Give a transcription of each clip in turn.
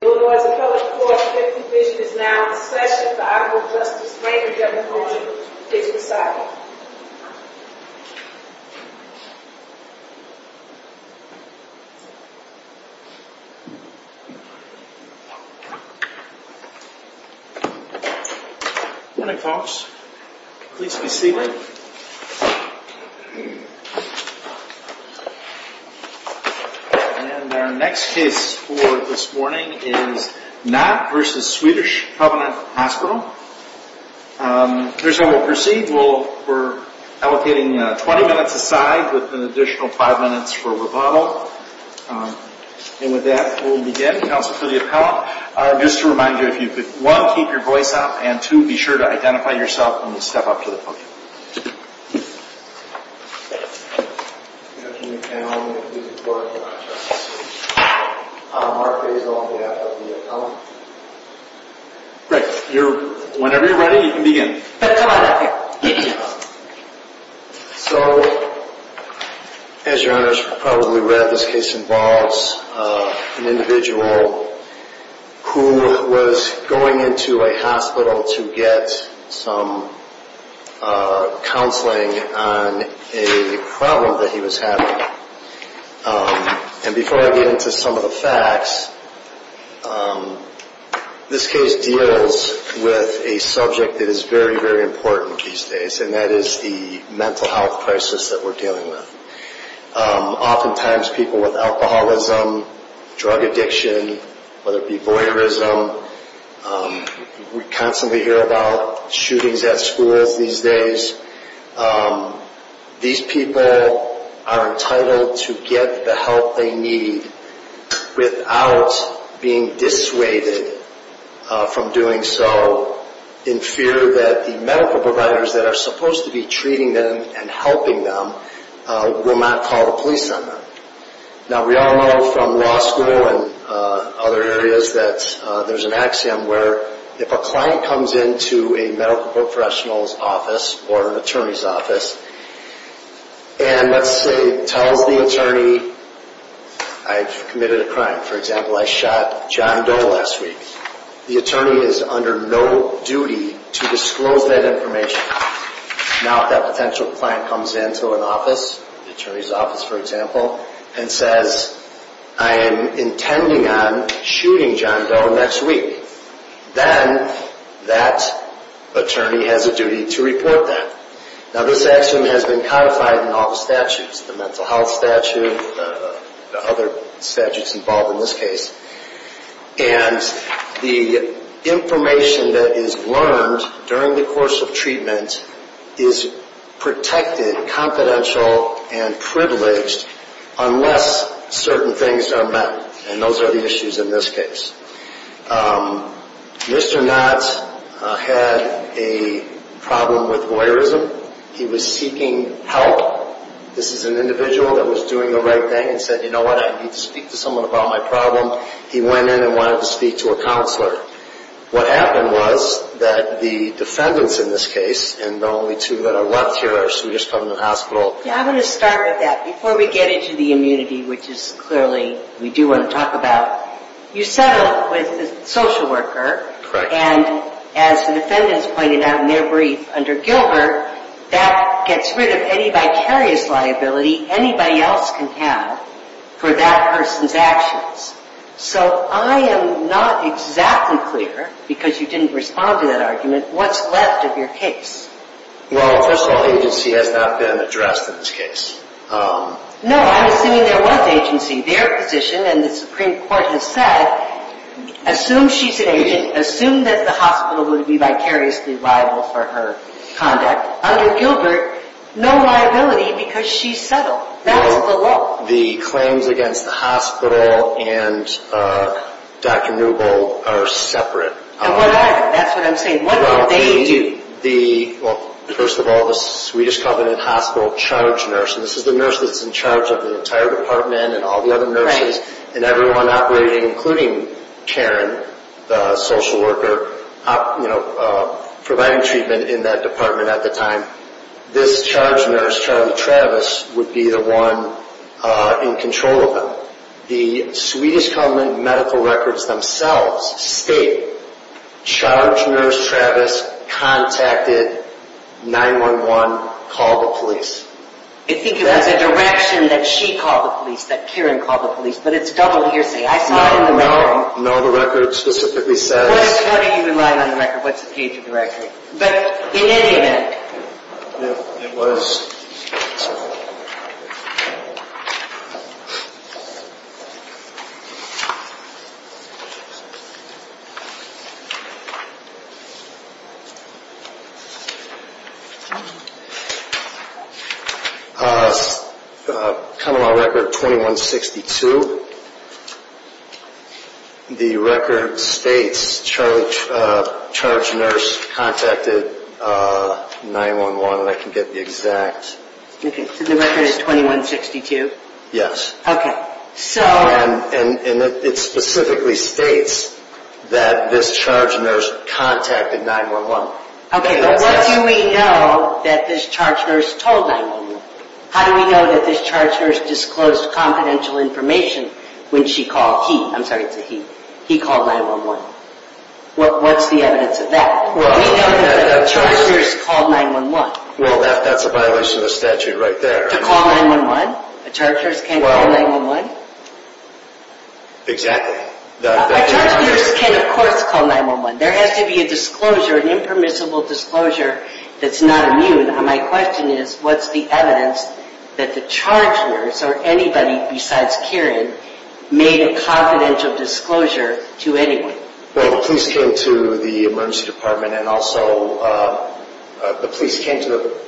Illinois Appellate Court's Fifth Division is now in session. The Honorable Justice Raymond Jefferson is reciting. Good morning, folks. Please be seated. And our next case for this morning is Nott v. Swedish Covenant Hospital. Here's how we'll proceed. We're allocating 20 minutes aside with an additional 5 minutes for rebuttal. And with that, we'll begin. Counsel for the appellant. Just to remind you, if you could, one, keep your voice up, and two, be sure to identify yourself when you step up to the podium. Great. Whenever you're ready, you can begin. So, as Your Honor has probably read, this case involves an individual who was going into a hospital to get some counseling on a problem that he was having. And before I get into some of the facts, this case deals with a subject that is very, very important these days, and that is the mental health crisis that we're dealing with. Oftentimes, people with alcoholism, drug addiction, whether it be voyeurism, we constantly hear about shootings at schools these days. These people are entitled to get the help they need without being dissuaded from doing so in fear that the medical providers that are supposed to be treating them and helping them will not call the police on them. Now, we all know from law school and other areas that there's an axiom where if a client comes into a medical professional's office or an attorney's office and, let's say, tells the attorney, I've committed a crime. For example, I shot John Doe last week. The attorney is under no duty to disclose that information. Now, if that potential client comes into an office, the attorney's office, for example, and says, I am intending on shooting John Doe next week, then that attorney has a duty to report that. Now, this axiom has been codified in all the statutes, the mental health statute, the other statutes involved in this case, and the information that is learned during the course of treatment is protected, confidential, and privileged unless certain things are met, and those are the issues in this case. Mr. Knott had a problem with voyeurism. He was seeking help. This is an individual that was doing the right thing and said, you know what, I need to speak to someone about my problem. He went in and wanted to speak to a counselor. What happened was that the defendants in this case, and the only two that are left here are Swedish Public Hospital. Yeah, I'm going to start with that. Before we get into the immunity, which is clearly we do want to talk about, you settled with the social worker, and as the defendants pointed out in their brief under Gilbert, that gets rid of any vicarious liability anybody else can have for that person's actions. So I am not exactly clear, because you didn't respond to that argument, what's left of your case. Well, first of all, agency has not been addressed in this case. No, I'm assuming there was agency. Their position, and the Supreme Court has said, assume she's an agent, assume that the hospital would be vicariously liable for her conduct. Under Gilbert, no liability because she's settled. That's the law. The claims against the hospital and Dr. Newbold are separate. That's what I'm saying. What will they do? Well, first of all, the Swedish Covenant Hospital charged nurse, and this is the nurse that's in charge of the entire department and all the other nurses, and everyone operating, including Karen, the social worker, providing treatment in that department at the time. This charged nurse, Charlie Travis, would be the one in control of them. The Swedish Covenant medical records themselves state, charged nurse Travis contacted 911, called the police. I think it was a direction that she called the police, that Karen called the police, but it's double hearsay. No, no. No, the record specifically says... Unless, how do you rely on the record? What's the gauge of the record? But, in any event... It was... The record states, charged nurse contacted 911. I can get the exact... The record is 2162? Yes. Okay, so... And it specifically states that this charged nurse contacted 911. Okay, but what do we know that this charged nurse told 911? How do we know that this charged nurse disclosed confidential information when she called, he, I'm sorry, it's a he, he called 911? What's the evidence of that? Well... We know that a charged nurse called 911. Well, that's a violation of the statute right there. To call 911? A charged nurse can't call 911? Exactly. A charged nurse can, of course, call 911. There has to be a disclosure, an impermissible disclosure, that's not immune. And my question is, what's the evidence that the charged nurse, or anybody besides Karen, made a confidential disclosure to anyone? Well, the police came to the emergency department, and also, the police came to the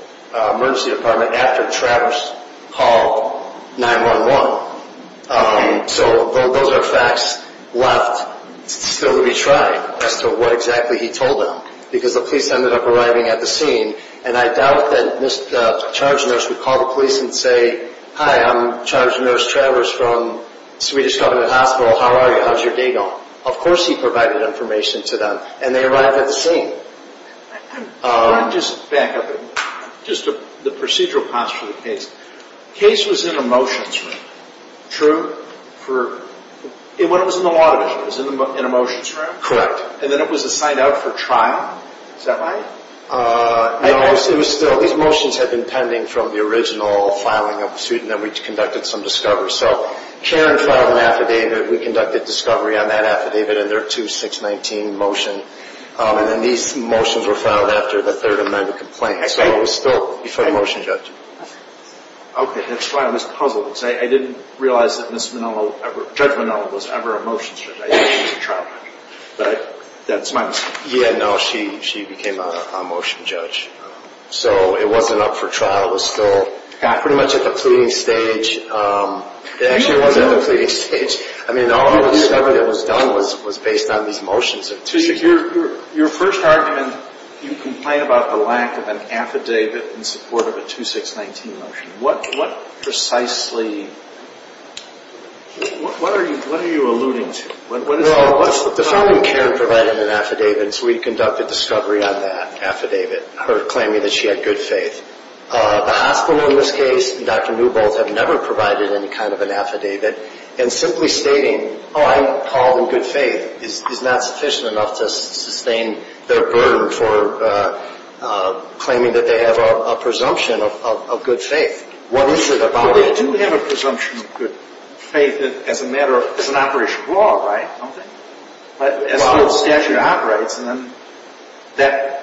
emergency department after Travers called 911. So, those are facts left still to be tried, as to what exactly he told them. Because the police ended up arriving at the scene, and I doubt that this charged nurse would call the police and say, Hi, I'm charged nurse Travers from Swedish Covenant Hospital, how are you, how's your day going? Of course he provided information to them, and they arrived at the scene. Can I just back up a minute? Just the procedural posture of the case. The case was in a motions room, true? True. When it was in the law division, it was in a motions room? Correct. And then it was assigned out for trial? Is that right? No, it was still, these motions had been pending from the original filing of the suit, and then we conducted some discovery. So, Karen filed an affidavit, we conducted discovery on that affidavit, and there are two 619 motions, and then these motions were filed after the third amendment complaint. Okay. So it was still before the motion judge. Okay, that's why I was puzzled, because I didn't realize that Ms. Manolo, Judge Manolo, was ever a motions judge. I thought she was a trial judge, but that's my mistake. Yeah, no, she became a motions judge. So it wasn't up for trial. It was still pretty much at the pleading stage. It actually wasn't at the pleading stage. I mean, all the discovery that was done was based on these motions. Your first argument, you complain about the lack of an affidavit in support of a 2619 motion. What precisely, what are you alluding to? Well, the felon, Karen, provided an affidavit, and so we conducted discovery on that affidavit, her claiming that she had good faith. The hospital, in this case, and Dr. Newbold have never provided any kind of an affidavit, and simply stating, oh, I'm called in good faith, is not sufficient enough to sustain their burden for claiming that they have a presumption of good faith. What is it about it? Well, they do have a presumption of good faith as a matter of, it's an operation of law, right? As far as statute operates, and then that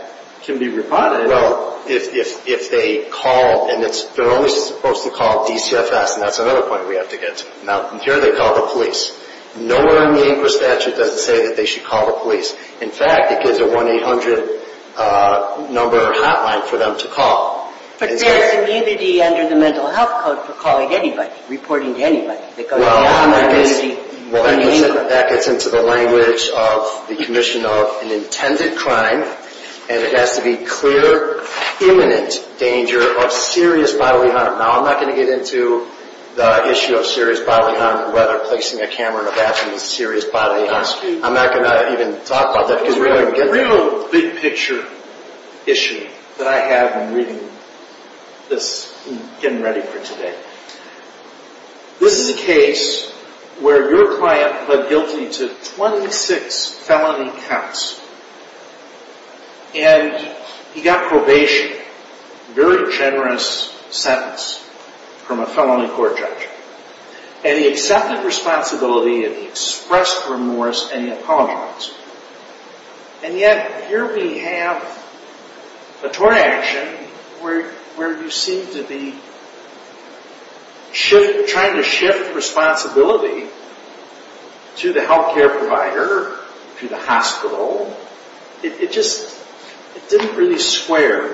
can be rebutted. Well, if they call, and they're only supposed to call DCFS, and that's another point we have to get to. Now, here they call the police. Nowhere in the Inquis statute does it say that they should call the police. In fact, it gives a 1-800 number or hotline for them to call. But there's immunity under the mental health code for calling anybody, reporting to anybody. Well, that gets into the language of the commission of an intended crime, and it has to be clear, imminent danger of serious bodily harm. Now, I'm not going to get into the issue of serious bodily harm, whether placing a camera in a bathroom is serious bodily harm. I'm not going to even talk about that. It's a real big picture issue that I have in reading this and getting ready for today. This is a case where your client pled guilty to 26 felony counts, and he got probation, a very generous sentence from a felony court judge. And he accepted responsibility, and he expressed remorse, and he apologized. And yet, here we have a tort action where you seem to be trying to shift responsibility to the healthcare provider, to the hospital. It just didn't really square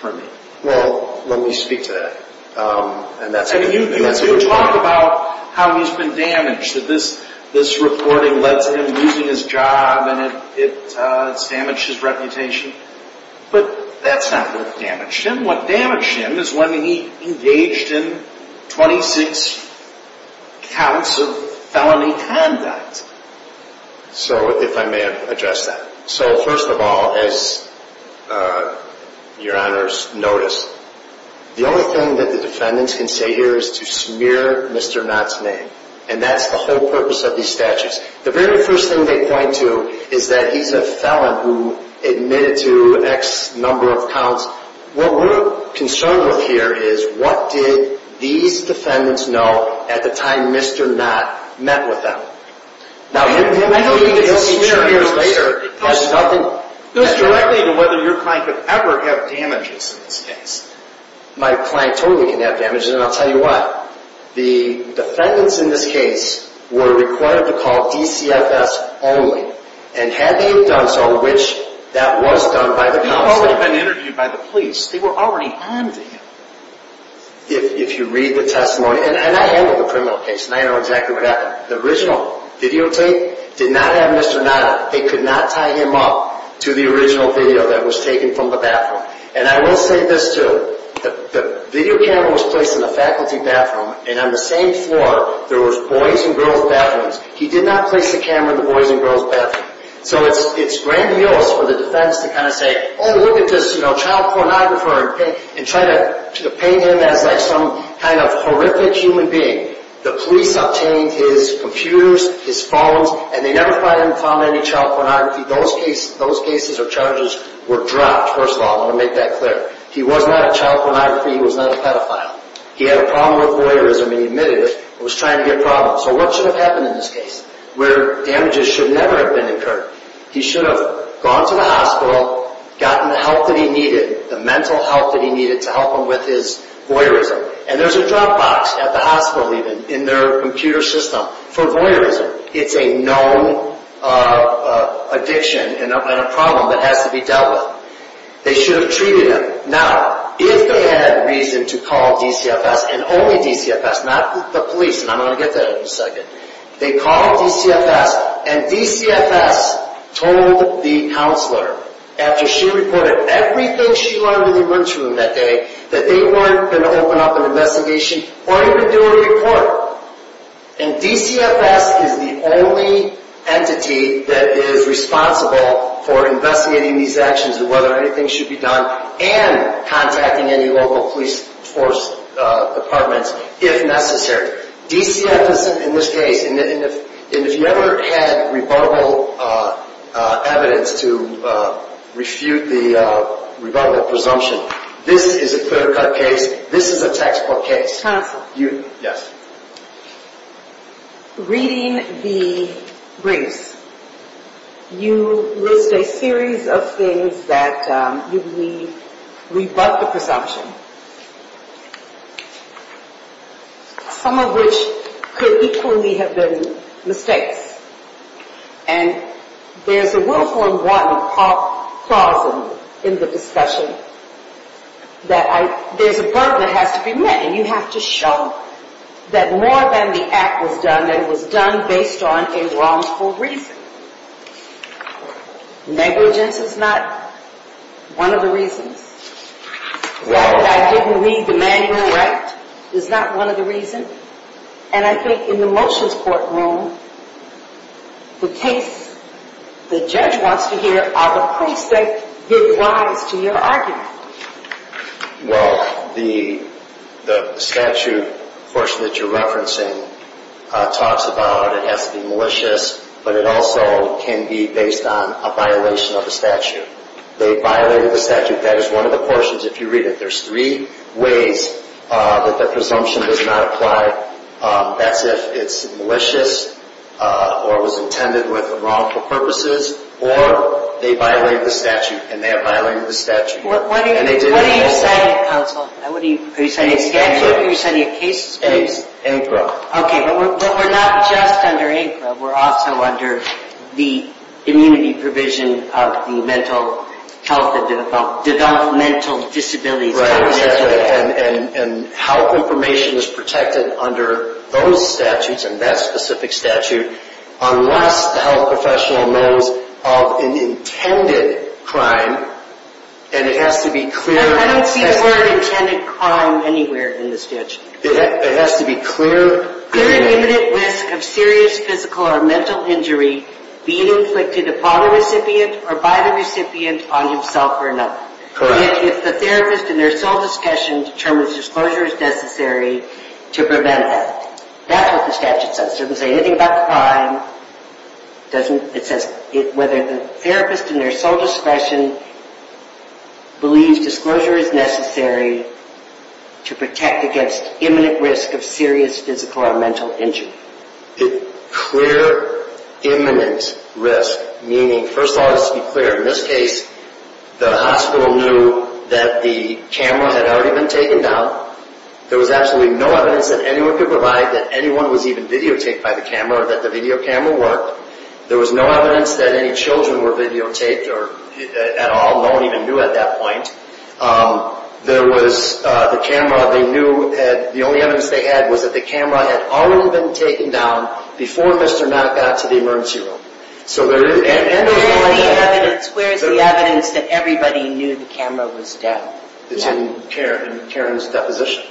for me. Well, let me speak to that. And that's a good point. You talk about how he's been damaged, that this reporting led to him losing his job, and it's damaged his reputation. But that's not what damaged him. What damaged him is when he engaged in 26 counts of felony conduct. So, if I may address that. So, first of all, as your honors notice, the only thing that the defendants can say here is to smear Mr. Knott's name. And that's the whole purpose of these statutes. The very first thing they point to is that he's a felon who admitted to X number of counts. What we're concerned with here is, what did these defendants know at the time Mr. Knott met with them? I don't mean to smear Mr. Knott. It goes directly to whether your client could ever have damages in this case. My client totally can have damages, and I'll tell you why. The defendants in this case were required to call DCFS only. And had they done so, which that was done by the counsel. He had already been interviewed by the police. They were already on to him. If you read the testimony. And I handle the criminal case, and I know exactly what happened. The original videotape did not have Mr. Knott on it. They could not tie him up to the original video that was taken from the bathroom. And I will say this too. The video camera was placed in the faculty bathroom, and on the same floor there was boys and girls bathrooms. He did not place the camera in the boys and girls bathroom. So it's grandiose for the defense to kind of say, oh look at this child pornographer, and try to paint him as some kind of horrific human being. The police obtained his computers, his phones, and they never found any child pornography. Those cases or charges were dropped, first of all. I want to make that clear. He was not a child pornography. He was not a pedophile. He had a problem with voyeurism, and he admitted it. He was trying to get problems. So what should have happened in this case? Where damages should never have been incurred. He should have gone to the hospital, gotten the help that he needed, the mental help that he needed to help him with his voyeurism. And there's a drop box at the hospital even, in their computer system, for voyeurism. It's a known addiction and a problem that has to be dealt with. They should have treated him. Now, if they had reason to call DCFS, and only DCFS, not the police, and I'm going to get to that in a second. They called DCFS, and DCFS told the counselor, after she reported everything she learned in the emergency room that day, that they weren't going to open up an investigation or even do a report. And DCFS is the only entity that is responsible for investigating these actions and whether anything should be done, and contacting any local police force departments, if necessary. DCFS, in this case, and if you ever had rebuttable evidence to refute the rebuttable presumption, this is a clear-cut case. This is a textbook case. Reading the briefs, you list a series of things that you believe rebut the presumption, some of which could equally have been mistakes. And there's a willful and wanton pausing in the discussion. There's a burden that has to be met, and you have to show that more than the act was done, it was done based on a wrongful reason. Negligence is not one of the reasons. The fact that I didn't read the manual right is not one of the reasons. And I think in the motions courtroom, the case the judge wants to hear, are the police that give rise to your argument. Well, the statute portion that you're referencing talks about it has to be malicious, but it also can be based on a violation of the statute. They violated the statute. That is one of the portions, if you read it, there's three ways that the presumption does not apply. That's if it's malicious or was intended with wrongful purposes, or they violated the statute and they have violated the statute. What are you citing counsel? Are you citing a statute or are you citing a case? ANCRA. Okay, but we're not just under ANCRA, we're also under the immunity provision of the mental health and developmental disabilities. And health information is protected under those statutes and that specific statute unless the health professional knows of an intended crime and it has to be clear. I don't see the word intended crime anywhere in the statute. It has to be clear. Clear and imminent risk of serious physical or mental injury being inflicted upon the recipient or by the recipient on himself or another. Correct. If the therapist in their sole discretion determines disclosure is necessary to prevent it. That's what the statute says. It doesn't say anything about the crime. It says whether the therapist in their sole discretion believes disclosure is necessary to protect against imminent risk of serious physical or mental injury. Clear imminent risk, meaning first of all it has to be clear. In this case, the hospital knew that the camera had already been taken down. There was absolutely no evidence that anyone could provide that anyone was even videotaped by the camera or that the video camera worked. There was no evidence that any children were videotaped at all. No one even knew at that point. The only evidence they had was that the camera had already been taken down before Mr. Matt got to the emergency room. Where is the evidence that everybody knew the camera was down? It's in Karen's deposition.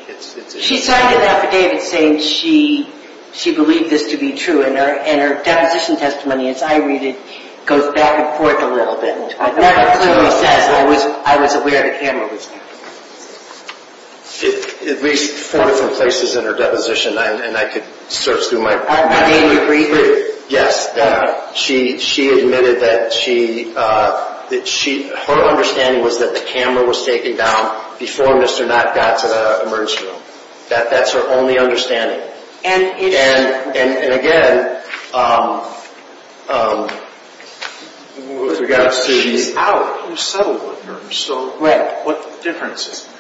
She signed an affidavit saying she believed this to be true and her deposition testimony, as I read it, goes back and forth a little bit. I've never clearly assessed where I was aware the camera was down. At least four different places in her deposition and I could search through my... I mean, briefly. Yes, she admitted that her understanding was that the camera was taken down before Mr. Matt got to the emergency room. That's her only understanding. And again, with regards to... She's out. You settled with her. Right. What difference does it make?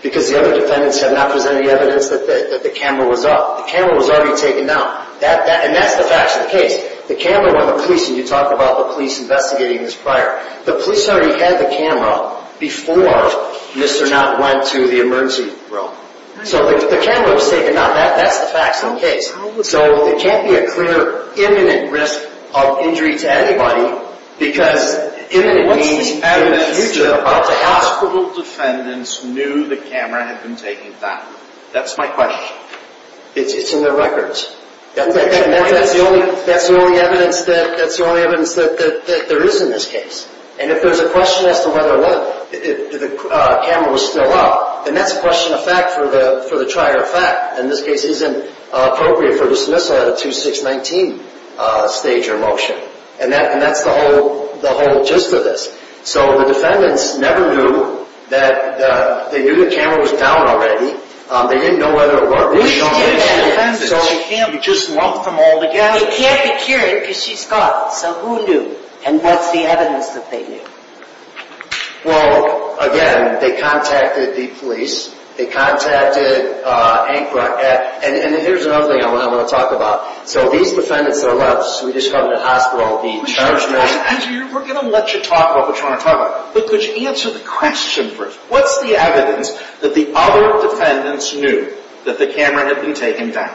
Because the other defendants have not presented any evidence that the camera was up. The camera was already taken down. And that's the facts of the case. The camera went to police and you talked about the police investigating this prior. The police already had the camera before Mr. Matt went to the emergency room. So the camera was taken down. That's the facts of the case. So there can't be a clear imminent risk of injury to anybody because imminent means... What's the evidence that hospital defendants knew the camera had been taken down? That's my question. It's in their records. That's the only evidence that there is in this case. And if there's a question as to whether or not the camera was still up, then that's a question of fact for the trier of fact. In this case, it isn't appropriate for dismissal at a 2-6-19 stage or motion. And that's the whole gist of this. So the defendants never knew that they knew the camera was down already. They didn't know whether or not... You just lumped them all together. It can't be cured because she's gone. So who knew? And what's the evidence that they knew? Well, again, they contacted the police. They contacted... And here's another thing I want to talk about. So these defendants are left, Swedish Covenant Hospital, being charged with... We're going to let you talk what we're trying to talk about. But could you answer the question first? What's the evidence that the other defendants knew that the camera had been taken down?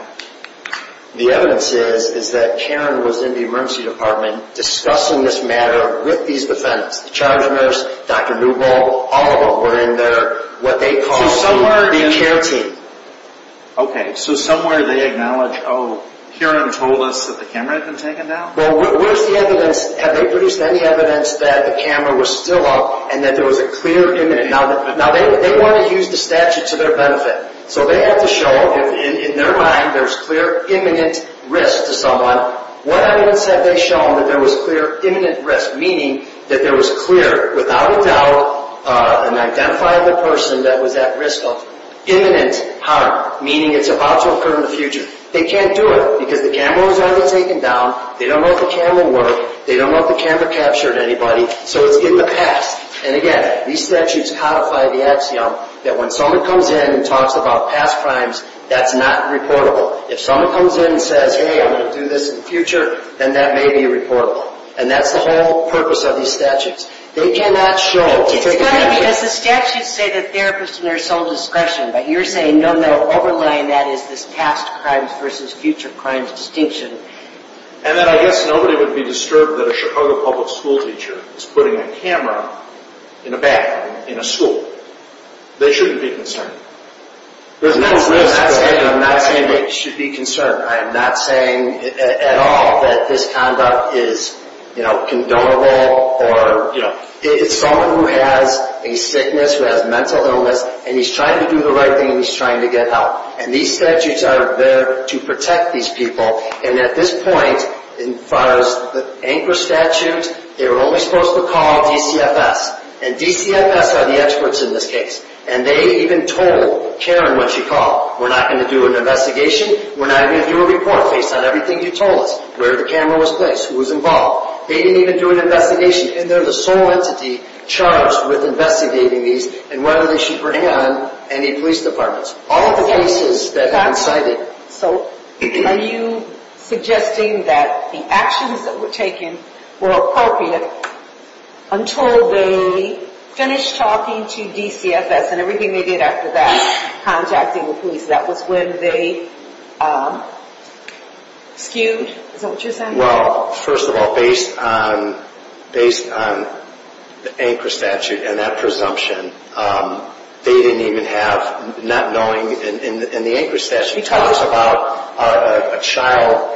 The evidence is that Karen was in the emergency department discussing this matter with these defendants. The charge nurse, Dr. Newball, all of them were in there. What they call the care team. Okay, so somewhere they acknowledge, oh, Karen told us that the camera had been taken down? Well, where's the evidence? Have they produced any evidence that the camera was still up and that there was a clear image? Now, they want to use the statute to their benefit. So they have to show, in their mind, there's clear imminent risk to someone. What evidence have they shown that there was clear imminent risk? Meaning that there was clear, without a doubt, an identifiable person that was at risk of imminent harm. Meaning it's about to occur in the future. They can't do it because the camera was already taken down. They don't know if the camera worked. They don't know if the camera captured anybody. So it's in the past. And, again, these statutes codify the axiom that when someone comes in and talks about past crimes, that's not reportable. If someone comes in and says, hey, I'm going to do this in the future, then that may be reportable. And that's the whole purpose of these statutes. They cannot show. It's funny because the statutes say the therapist in their sole discretion. But you're saying, no, no, overlying that is this past crimes versus future crimes distinction. And then I guess nobody would be disturbed that a Chicago public school teacher is putting a camera in a bathroom in a school. They shouldn't be concerned. I'm not saying they should be concerned. I'm not saying at all that this conduct is, you know, condonable. It's someone who has a sickness, who has mental illness, and he's trying to do the right thing, and he's trying to get help. And these statutes are there to protect these people. And at this point, as far as the anchor statutes, they were only supposed to call DCFS. And DCFS are the experts in this case. And they even told Karen when she called, we're not going to do an investigation. We're not going to do a report based on everything you told us, where the camera was placed, who was involved. They didn't even do an investigation. And they're the sole entity charged with investigating these and whether they should bring on any police departments. All of the cases that have been cited. So are you suggesting that the actions that were taken were appropriate until they finished talking to DCFS and everything they did after that, contacting the police, that was when they skewed? Is that what you're saying? Well, first of all, based on the anchor statute and that presumption, they didn't even have, not knowing, and the anchor statute talks about a child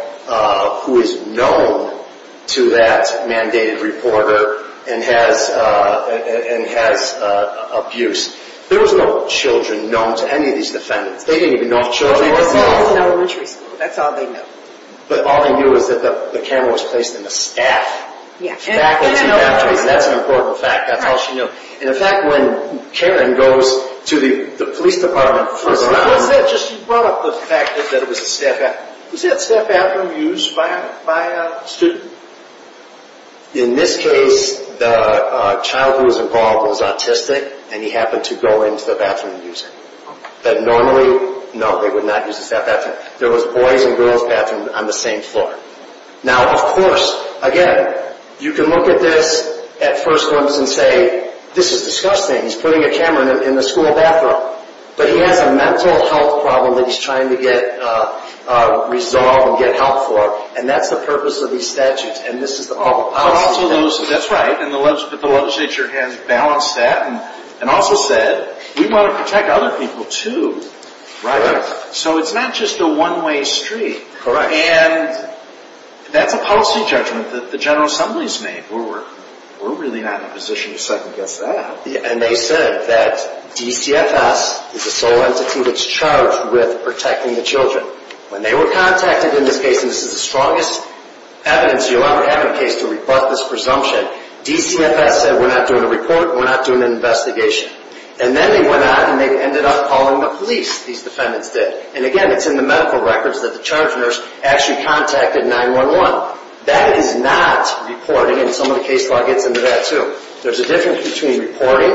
who is known to that mandated reporter and has abuse. There was no children known to any of these defendants. They didn't even know if children were involved. That's all they knew. But all they knew was that the camera was placed in the staff. Yeah. That's an important fact. That's all she knew. And the fact when Karen goes to the police department. What was that? You brought up the fact that it was a staff bathroom. Was that staff bathroom used by a student? In this case, the child who was involved was autistic and he happened to go into the bathroom and use it. But normally, no, they would not use the staff bathroom. There was a boys' and girls' bathroom on the same floor. Now, of course, again, you can look at this at first glance and say, this is disgusting. He's putting a camera in the school bathroom. But he has a mental health problem that he's trying to get resolved and get help for. And that's the purpose of these statutes. And this is the awful policy. That's right. And the legislature has balanced that and also said, we want to protect other people, too. Right. So it's not just a one-way street. Correct. And that's a policy judgment that the General Assembly has made. We're really not in a position to second-guess that. And they said that DCFS is the sole entity that's charged with protecting the children. When they were contacted in this case, and this is the strongest evidence you'll ever have in a case to rebut this presumption, DCFS said, we're not doing a report and we're not doing an investigation. And then they went out and they ended up calling the police, these defendants did. And, again, it's in the medical records that the charge nurse actually contacted 911. That is not reporting, and some of the case law gets into that, too. There's a difference between reporting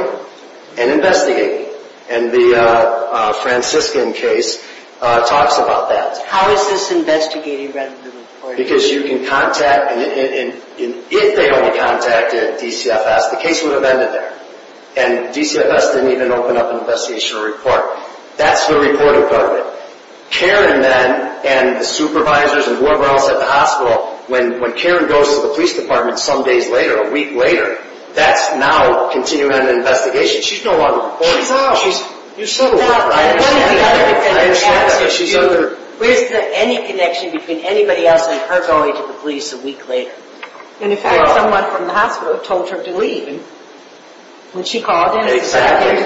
and investigating. And the Franciscan case talks about that. How is this investigating rather than reporting? Because you can contact, and if they only contacted DCFS, the case would have ended there. And DCFS didn't even open up an investigational report. That's the reporting part of it. Karen, then, and the supervisors and whoever else at the hospital, when Karen goes to the police department some days later, a week later, that's now continuing an investigation. She's no longer reporting. She's out. You're still out. I understand that. I understand that, but she's out there. There isn't any connection between anybody else and her going to the police a week later. In fact, someone from the hospital told her to leave when she called in. Exactly.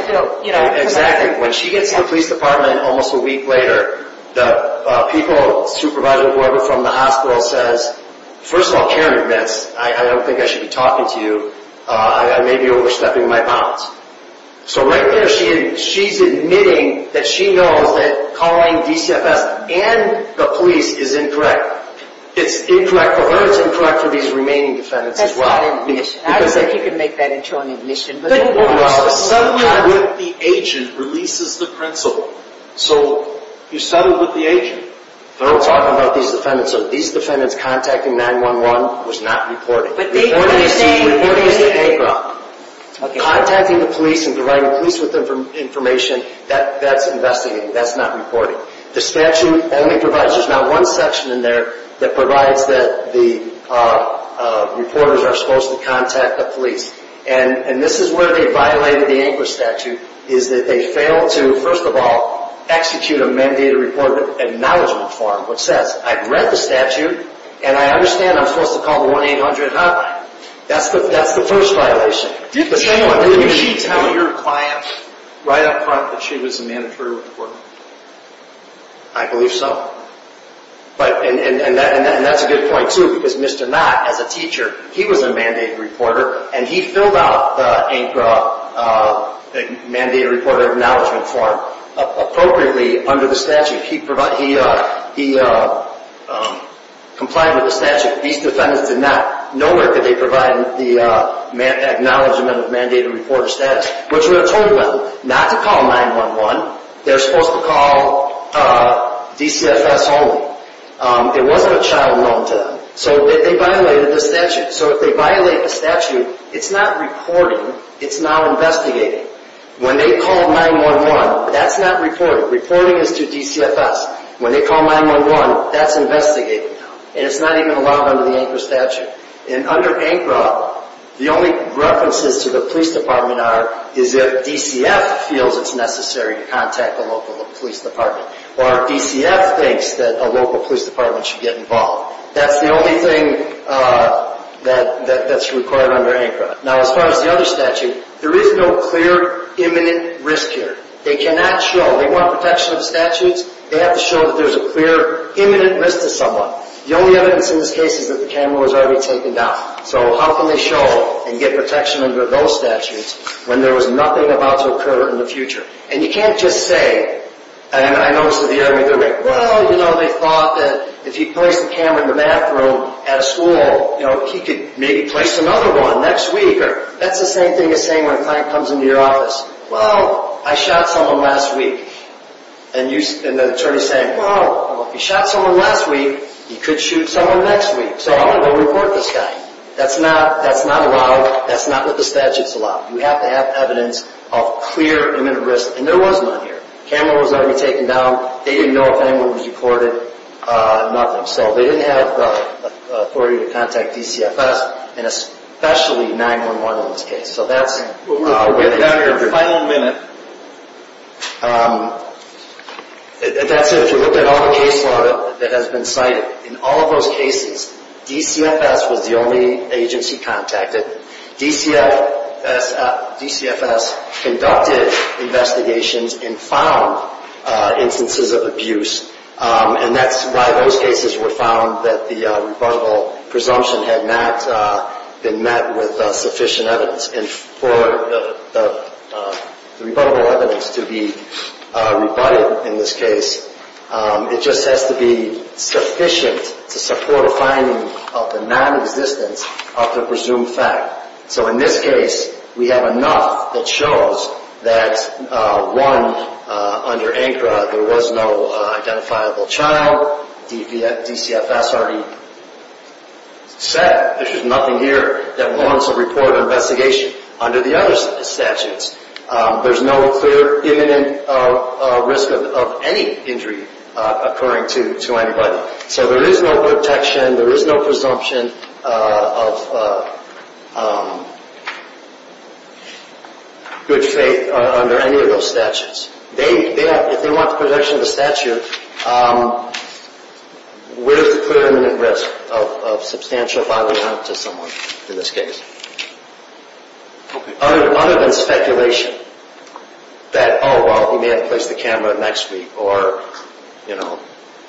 Exactly. When she gets to the police department almost a week later, the people, supervisors, whoever from the hospital says, first of all, Karen admits, I don't think I should be talking to you. I may be overstepping my bounds. So right there, she's admitting that she knows that calling DCFS and the police is incorrect. It's incorrect for her. It's incorrect for these remaining defendants as well. That's not an admission. I don't think you can make that into an admission. Settling with the agent releases the principle. So you settle with the agent. But I'm talking about these defendants. So these defendants contacting 911 was not reporting. Reporting is the agro. Contacting the police and providing police with information, that's investigating. That's not reporting. The statute only provides. There's not one section in there that provides that the reporters are supposed to contact the police. And this is where they violated the ANCRA statute, is that they failed to, first of all, execute a mandated report acknowledgement form, which says, I've read the statute, and I understand I'm supposed to call the 1-800 hotline. That's the first violation. Didn't she tell your client right up front that she was a mandatory reporter? I believe so. And that's a good point, too, because Mr. Knott, as a teacher, he was a mandated reporter, and he filled out the ANCRA mandated reporter acknowledgement form appropriately under the statute. He complied with the statute. These defendants did not. Nowhere could they provide the acknowledgement of mandated reporter status, which would have told them not to call 911. They're supposed to call DCFS only. It wasn't a child known to them. So they violated the statute. So if they violate the statute, it's not reporting. It's now investigating. When they call 911, that's not reporting. Reporting is to DCFS. When they call 911, that's investigating. And it's not even allowed under the ANCRA statute. And under ANCRA, the only references to the police department are is if DCF feels it's necessary to contact the local police department or DCF thinks that a local police department should get involved. That's the only thing that's required under ANCRA. Now, as far as the other statute, there is no clear imminent risk here. They cannot show. They want protection of the statutes. They have to show that there's a clear imminent risk to someone. The only evidence in this case is that the camera was already taken down. So how can they show and get protection under those statutes when there was nothing about to occur in the future? And you can't just say, and I noticed it the other way, well, you know, they thought that if you placed the camera in the bathroom at a school, you know, he could maybe place another one next week. That's the same thing as saying when a client comes into your office, well, I shot someone last week. And the attorney's saying, well, if you shot someone last week, you could shoot someone next week. So how do they report this guy? That's not allowed. That's not what the statute's allowed. You have to have evidence of clear imminent risk. And there was none here. The camera was already taken down. They didn't know if anyone was recorded, nothing. So they didn't have the authority to contact DCFS, and especially 911 in this case. We're down to our final minute. That's if you look at all the case law that has been cited. In all of those cases, DCFS was the only agency contacted. DCFS conducted investigations and found instances of abuse, and that's why those cases were found that the rebuttable presumption had not been met with sufficient evidence. And for the rebuttable evidence to be rebutted in this case, it just has to be sufficient to support a finding of the non-existence of the presumed fact. So in this case, we have enough that shows that, one, under ANCRA, there was no identifiable child. DCFS already said, there's just nothing here that wants a report of investigation. Under the other statutes, there's no clear imminent risk of any injury occurring to anybody. So there is no protection. There is no presumption of good faith under any of those statutes. If they want protection of the statute, where's the clear imminent risk of substantial violence to someone in this case? Other than speculation that, oh, well, he may have to place the camera next week, or, you know.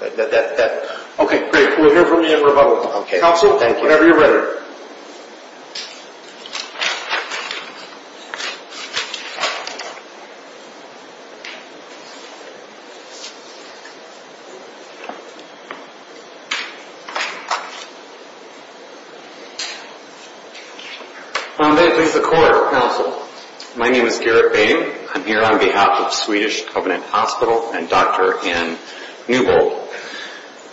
Okay, great. We'll hear from you in rebuttal. Counsel, whenever you're ready. May it please the Court, Counsel. My name is Garrett Boehm. I'm here on behalf of Swedish Covenant Hospital and Dr. Ann Newbold.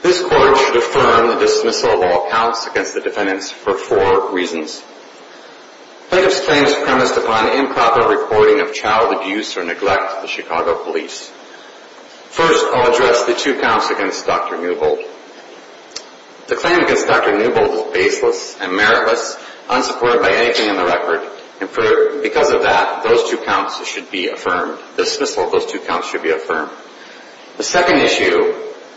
This Court should affirm the dismissal of all counts against the defendants for four reasons. Plaintiff's claim is premised upon improper reporting of child abuse or neglect to the Chicago Police. First, I'll address the two counts against Dr. Newbold. The claim against Dr. Newbold is baseless and meritless, unsupported by anything in the record. And because of that, those two counts should be affirmed. The dismissal of those two counts should be affirmed. The second issue,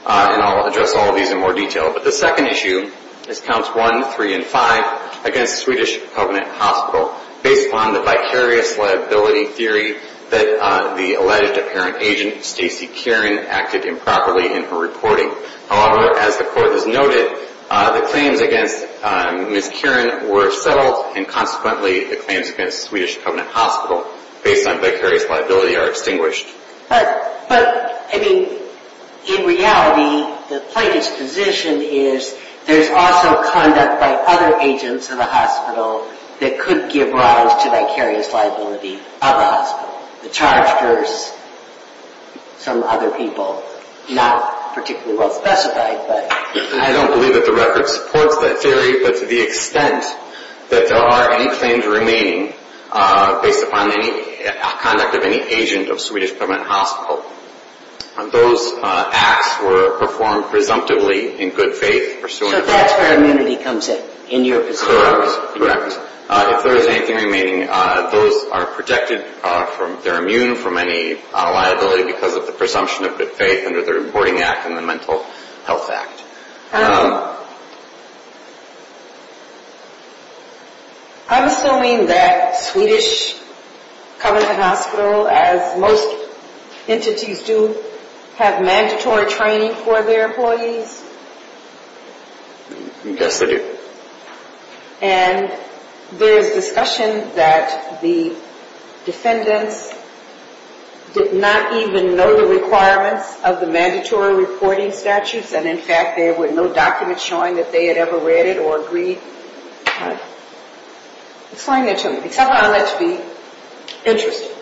and I'll address all of these in more detail, but the second issue is Counts 1, 3, and 5 against Swedish Covenant Hospital based upon the vicarious liability theory that the alleged apparent agent, Stacy Kieran, acted improperly in her reporting. However, as the Court has noted, the claims against Ms. Kieran were settled and consequently the claims against Swedish Covenant Hospital based on vicarious liability are extinguished. But, I mean, in reality, the plaintiff's position is there's also conduct by other agents of the hospital that could give rise to vicarious liability of a hospital. The charge versus some other people, not particularly well specified. I don't believe that the record supports that theory, but to the extent that there are any claims remaining based upon any conduct of any agent of Swedish Covenant Hospital, those acts were performed presumptively in good faith. So that's where immunity comes in, in your perspective? Correct. If there's anything remaining, those are protected, they're immune from any liability because of the presumption of good faith under the Reporting Act and the Mental Health Act. I'm assuming that Swedish Covenant Hospital, as most entities do, have mandatory training for their employees? Yes, they do. And there is discussion that the defendants did not even know the requirements of the mandatory reporting statutes and, in fact, there were no documents showing that they had ever read it or agreed. Explain that to me. It's not what I'd like to be interested in.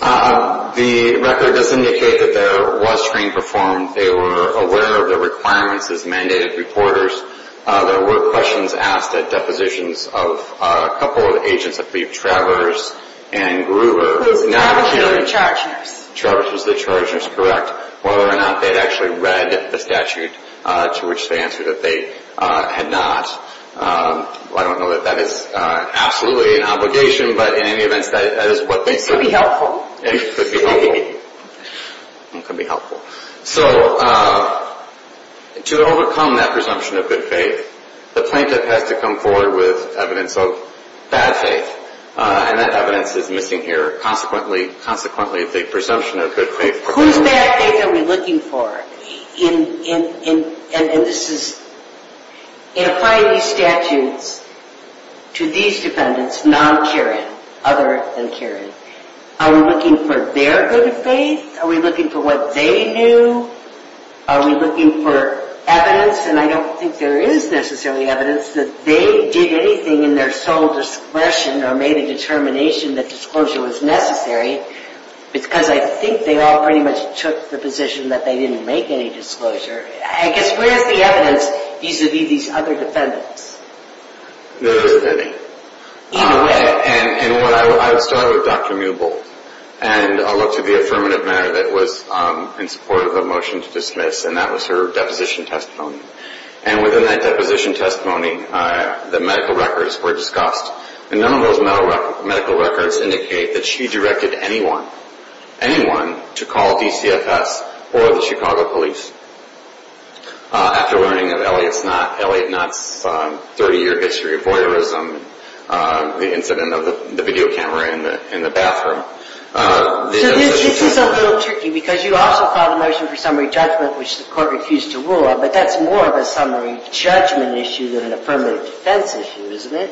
The record does indicate that there was training performed. They were aware of the requirements as mandated reporters. There were questions asked at depositions of a couple of agents, I believe Travers and Gruber. Travers was the charge nurse. Travers was the charge nurse, correct. Whether or not they'd actually read the statute, to which they answered that they had not. I don't know that that is absolutely an obligation, but in any event, that is what they said. This could be helpful. It could be helpful. So to overcome that presumption of good faith, the plaintiff has to come forward with evidence of bad faith, and that evidence is missing here, consequently the presumption of good faith. Whose bad faith are we looking for? In applying these statutes to these defendants, non-Kirin, other than Kirin, are we looking for their good faith? Are we looking for what they knew? Are we looking for evidence? And I don't think there is necessarily evidence that they did anything in their sole discretion or made a determination that disclosure was necessary, because I think they all pretty much took the position that they didn't make any disclosure. I guess where is the evidence vis-à-vis these other defendants? There isn't any. In a way. And I'll start with Dr. Muebel, and I'll look to the affirmative matter that was in support of the motion to dismiss, and that was her deposition testimony. And within that deposition testimony, the medical records were discussed, and none of those medical records indicate that she directed anyone, anyone, to call DCFS or the Chicago police. After learning of Elliot Knott's 30-year history of voyeurism, the incident of the video camera in the bathroom... So this is a little tricky, because you also filed a motion for summary judgment, which the court refused to rule on, but that's more of a summary judgment issue than an affirmative defense issue, isn't it?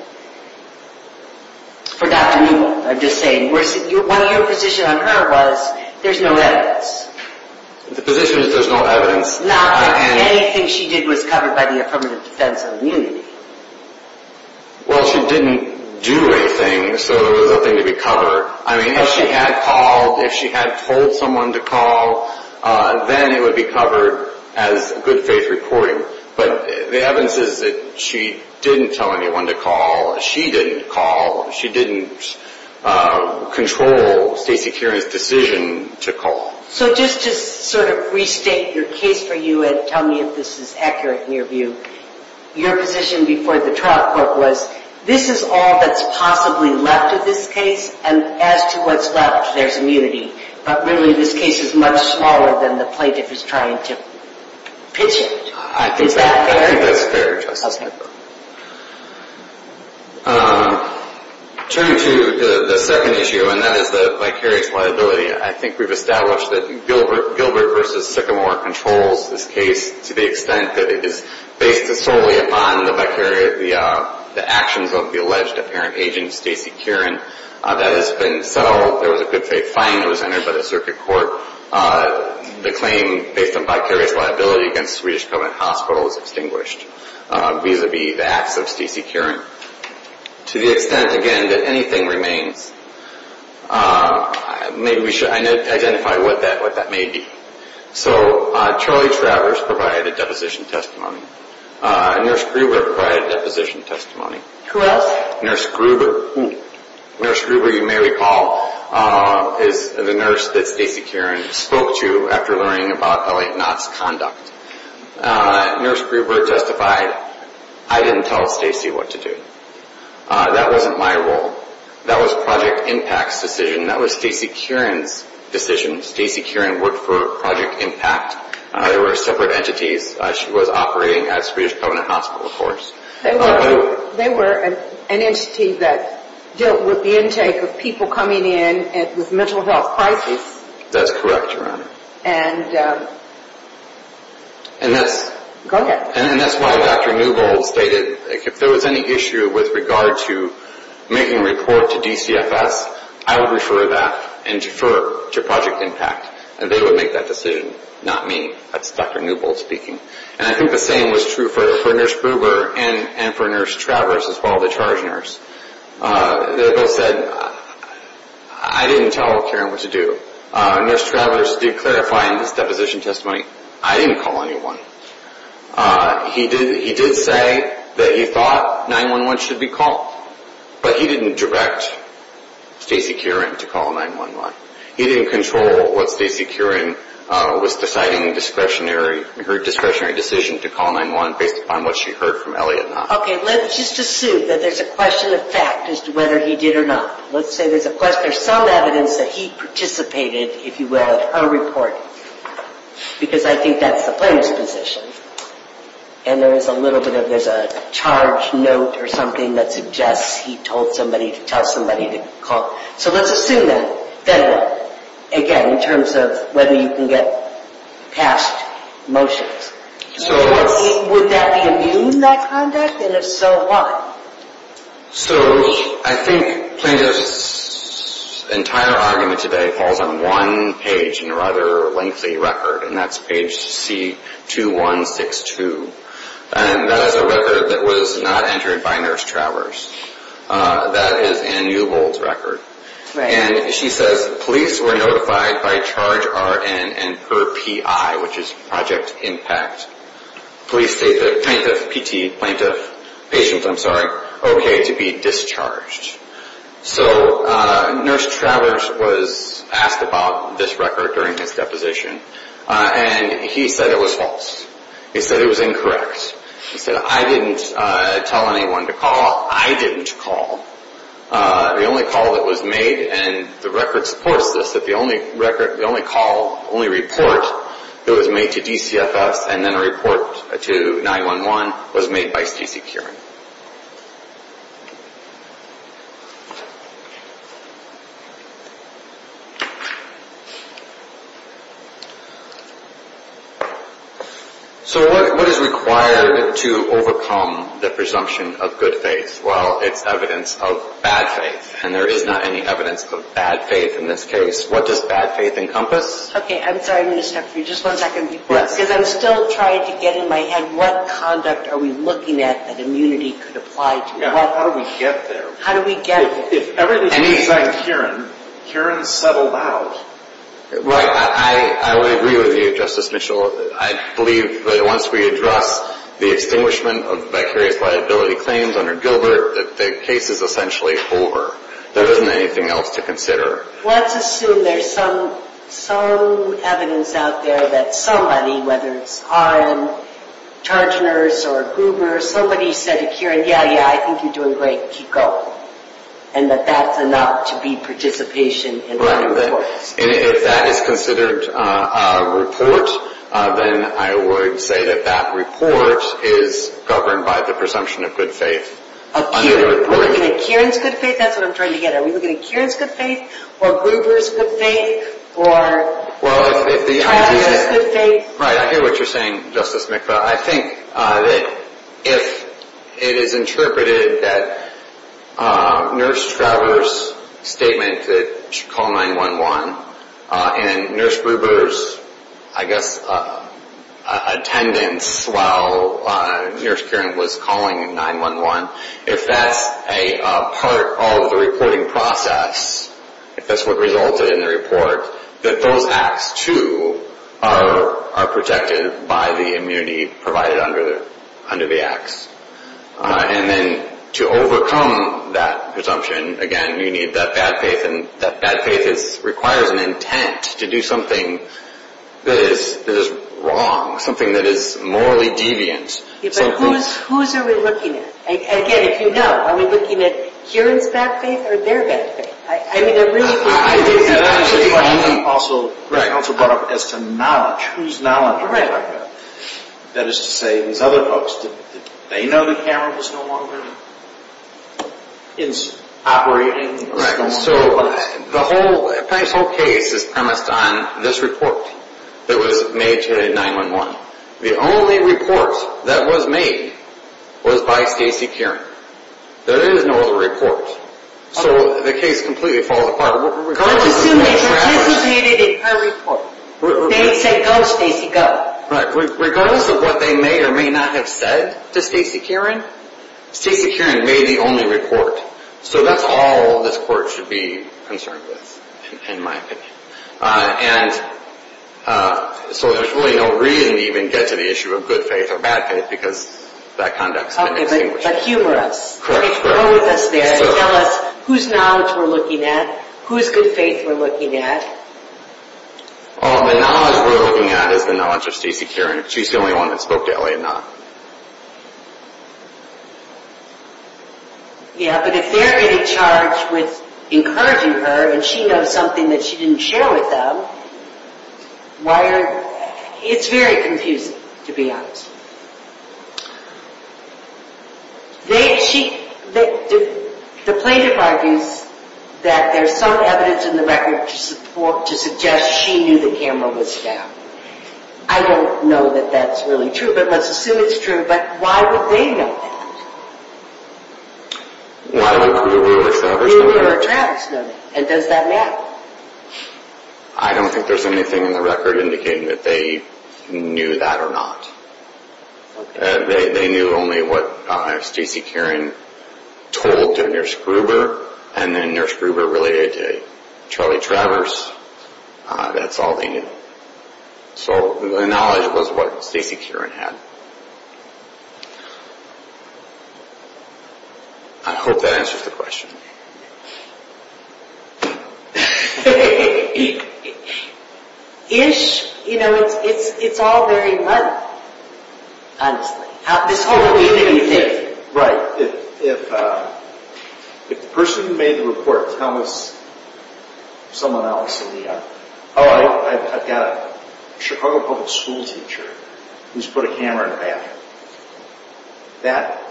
For Dr. Muebel, I'm just saying. One of your positions on her was there's no evidence. The position is there's no evidence. Not that anything she did was covered by the affirmative defense immunity. Well, she didn't do anything, so there was nothing to be covered. I mean, if she had called, if she had told someone to call, then it would be covered as good faith reporting. But the evidence is that she didn't tell anyone to call. She didn't call. She didn't control state security's decision to call. So just to sort of restate your case for you and tell me if this is accurate in your view, your position before the trial court was, this is all that's possibly left of this case, and as to what's left, there's immunity. But really, this case is much smaller than the plaintiff is trying to pitch it. Is that fair? That's fair, Justice. Turning to the second issue, and that is the vicarious liability, I think we've established that Gilbert v. Sycamore controls this case to the extent that it is based solely upon the actions of the alleged apparent agent, Stacy Kieran. That has been settled. There was a good faith fine that was entered by the circuit court. The claim based on vicarious liability against Swedish Covenant Hospital is extinguished vis-à-vis the acts of Stacy Kieran. To the extent, again, that anything remains, maybe we should identify what that may be. So Charlie Travers provided a deposition testimony. Nurse Gruber provided a deposition testimony. Who else? Nurse Gruber, you may recall, is the nurse that Stacy Kieran spoke to after learning about L.A. Knott's conduct. Nurse Gruber justified, I didn't tell Stacy what to do. That wasn't my role. That was Project IMPACT's decision. That was Stacy Kieran's decision. Stacy Kieran worked for Project IMPACT. They were separate entities. She was operating at Swedish Covenant Hospital, of course. They were an entity that dealt with the intake of people coming in with mental health crises. That's correct, Your Honor. And that's why Dr. Newbold stated, if there was any issue with regard to making a report to DCFS, I would refer that and defer to Project IMPACT, and they would make that decision, not me. That's Dr. Newbold speaking. And I think the same was true for Nurse Gruber and for Nurse Travers as well, the charge nurse. They both said, I didn't tell Kieran what to do. Nurse Travers did clarify in his deposition testimony, I didn't call anyone. He did say that he thought 911 should be called, but he didn't direct Stacy Kieran to call 911. He didn't control what Stacy Kieran was deciding, her discretionary decision to call 911 based upon what she heard from L.A. Knott. Okay, let's just assume that there's a question of fact as to whether he did or not. Let's say there's a question, there's some evidence that he participated, if you will, in her report, because I think that's the plaintiff's position. And there's a little bit of, there's a charge note or something that suggests he told somebody to tell somebody to call. So let's assume that. Then what? Again, in terms of whether you can get past motions. Would that be immune, that conduct? And if so, why? So, I think plaintiff's entire argument today falls on one page in a rather lengthy record, and that's page C2162. And that is a record that was not entered by Nurse Travers. That is Ann Newbold's record. And she says police were notified by charge RN and her PI, which is Project Impact, police state that plaintiff, PT, plaintiff, patient, I'm sorry, okay to be discharged. So Nurse Travers was asked about this record during his deposition, and he said it was false. He said it was incorrect. He said, I didn't tell anyone to call. I didn't call. The only call that was made, and the record supports this, that the only record, the only call, the only report that was made to DCFS and then a report to 911 was made by Stacey Kieran. So what is required to overcome the presumption of good faith? Well, it's evidence of bad faith, and there is not any evidence of bad faith in this case. What does bad faith encompass? Okay, I'm sorry, I'm going to stop you. Just one second. Because I'm still trying to get in my head what conduct are we looking at that immunity could apply to? How do we get there? How do we get there? If everything is like Kieran, Kieran settled out. Right. I would agree with you, Justice Mitchell. I believe that once we address the extinguishment of vicarious liability claims under Gilbert, the case is essentially over. There isn't anything else to consider. Let's assume there's some evidence out there that somebody, whether it's Haren, Chargner's, or Gruber, somebody said to Kieran, yeah, yeah, I think you're doing great. Keep going. And that that's enough to be participation in the report. If that is considered a report, then I would say that that report is governed by the presumption of good faith. We're looking at Kieran's good faith? That's what I'm trying to get at. Are we looking at Kieran's good faith, or Gruber's good faith, or Travis's good faith? Right, I hear what you're saying, Justice McFadden. I think that if it is interpreted that Nurse Travers' statement that she called 911, and Nurse Gruber's, I guess, attendance while Nurse Kieran was calling 911, if that's a part of the reporting process, if that's what resulted in the report, that those acts, too, are protected by the immunity provided under the acts. And then to overcome that presumption, again, you need that bad faith, and that bad faith requires an intent to do something that is wrong, something that is morally deviant. But whose are we looking at? Again, if you know, are we looking at Kieran's bad faith, or their bad faith? I mean, there really could be... And that's a question I also brought up as to knowledge. Whose knowledge are we talking about? That is to say, these other folks, did they know the camera was no longer operating? Right, so, this whole case is premised on this report that was made to 911. The only report that was made was by Stacy Kieran. There is no other report. So the case completely falls apart. Regardless of what they may or may not have said to Stacy Kieran, Stacy Kieran made the only report. So that's all this court should be concerned with, in my opinion. And so there's really no reason to even get to the issue of good faith or bad faith, because that conduct has been extinguished. Okay, but humor us. Correct. Go with us there. Tell us whose knowledge we're looking at, whose good faith we're looking at. Well, the knowledge we're looking at is the knowledge of Stacy Kieran. She's the only one that spoke to Elliot Knott. Yeah, but if they're getting charged with encouraging her, and she knows something that she didn't share with them, why are... It's very confusing, to be honest. The plaintiff argues that there's some evidence in the record to suggest she knew the camera was down. I don't know that that's really true, but let's assume it's true. But why would they know that? Why would Kruber or Travers know that? Why would Kruber or Travers know that? And does that matter? I don't think there's anything in the record indicating that they knew that or not. They knew only what Stacy Kieran told to Nurse Kruber, and then Nurse Kruber relayed it to Charlie Travers. That's all they knew. So the knowledge was what Stacy Kieran had. I hope that answers the question. Ish. You know, it's all very muddled, honestly. It's all really muddled. Right. If the person who made the report tells someone else, oh, I've got a Chicago public school teacher who's put a camera in a bathroom. That,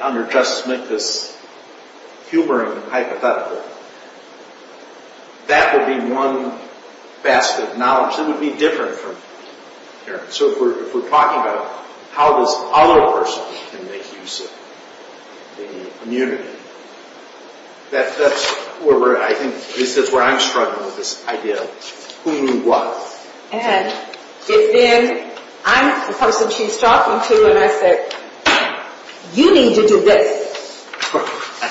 under Justice Minkus' humoring hypothetical, that would be one basket of knowledge. It would be different from Kieran. So if we're talking about how this other person can make use of the immunity, I think this is where I'm struggling with this idea of who knew what. And if then I'm the person she's talking to, and I said, you need to do this.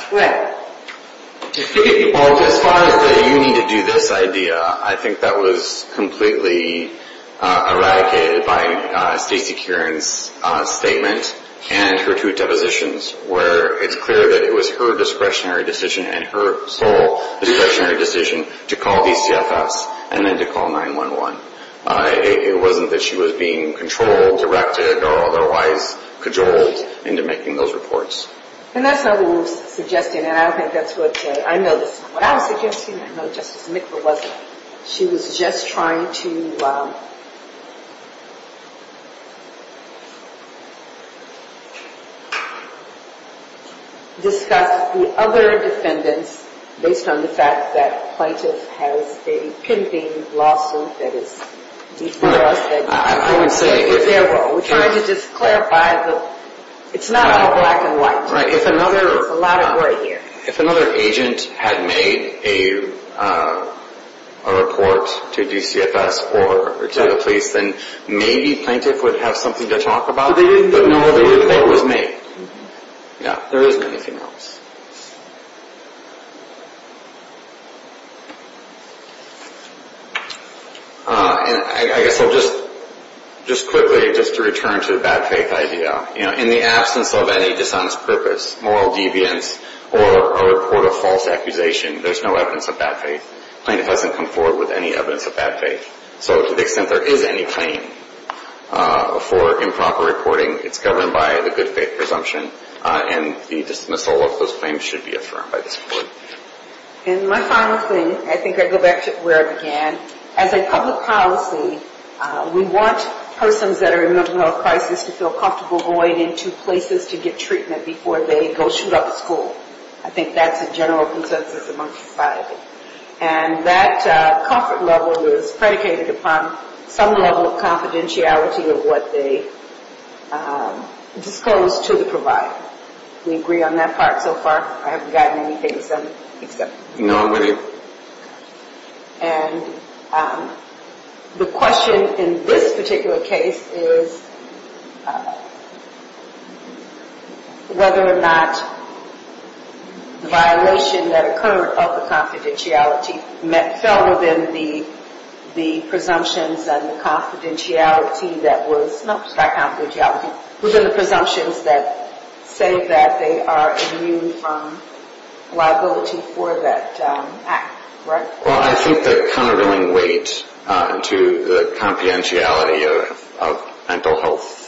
What? As far as the you need to do this idea, I think that was completely eradicated by Stacy Kieran's statement and her two depositions, where it's clear that it was her discretionary decision and her sole discretionary decision to call DCFS and then to call 911. It wasn't that she was being controlled, directed, or otherwise cajoled into making those reports. And that's not what we're suggesting, and I don't think that's what, I know this isn't what I'm suggesting. I know Justice Minkus wasn't. She was just trying to... discuss the other defendants based on the fact that plaintiff has a pimping lawsuit that is before us. I would say if... We're trying to just clarify the... It's not all black and white. There's a lot of gray here. If another agent had made a... a report to DCFS or to the police, then maybe plaintiff would have something to talk about. But no, they didn't think it was me. There isn't anything else. I guess I'll just... Just quickly, just to return to the bad faith idea. In the absence of any dishonest purpose, moral deviance, or a report of false accusation, there's no evidence of bad faith. Plaintiff hasn't come forward with any evidence of bad faith. So to the extent there is any claim for improper reporting, it's governed by the good faith presumption, and the dismissal of those claims should be affirmed by this court. And my final thing, I think I go back to where I began. As a public policy, we want persons that are in mental health crisis to feel comfortable going into places to get treatment before they go shoot up a school. I think that's a general consensus among society. And that comfort level is predicated upon some level of confidentiality of what they disclose to the provider. Do we agree on that part so far? I haven't gotten anything except... Nobody. And the question in this particular case is... whether or not the violation that occurred of the confidentiality fell within the presumptions and the confidentiality that was... No, it's not confidentiality. Within the presumptions that say that they are immune from liability for that act, right? Well, I think the countervailing weight to the confidentiality of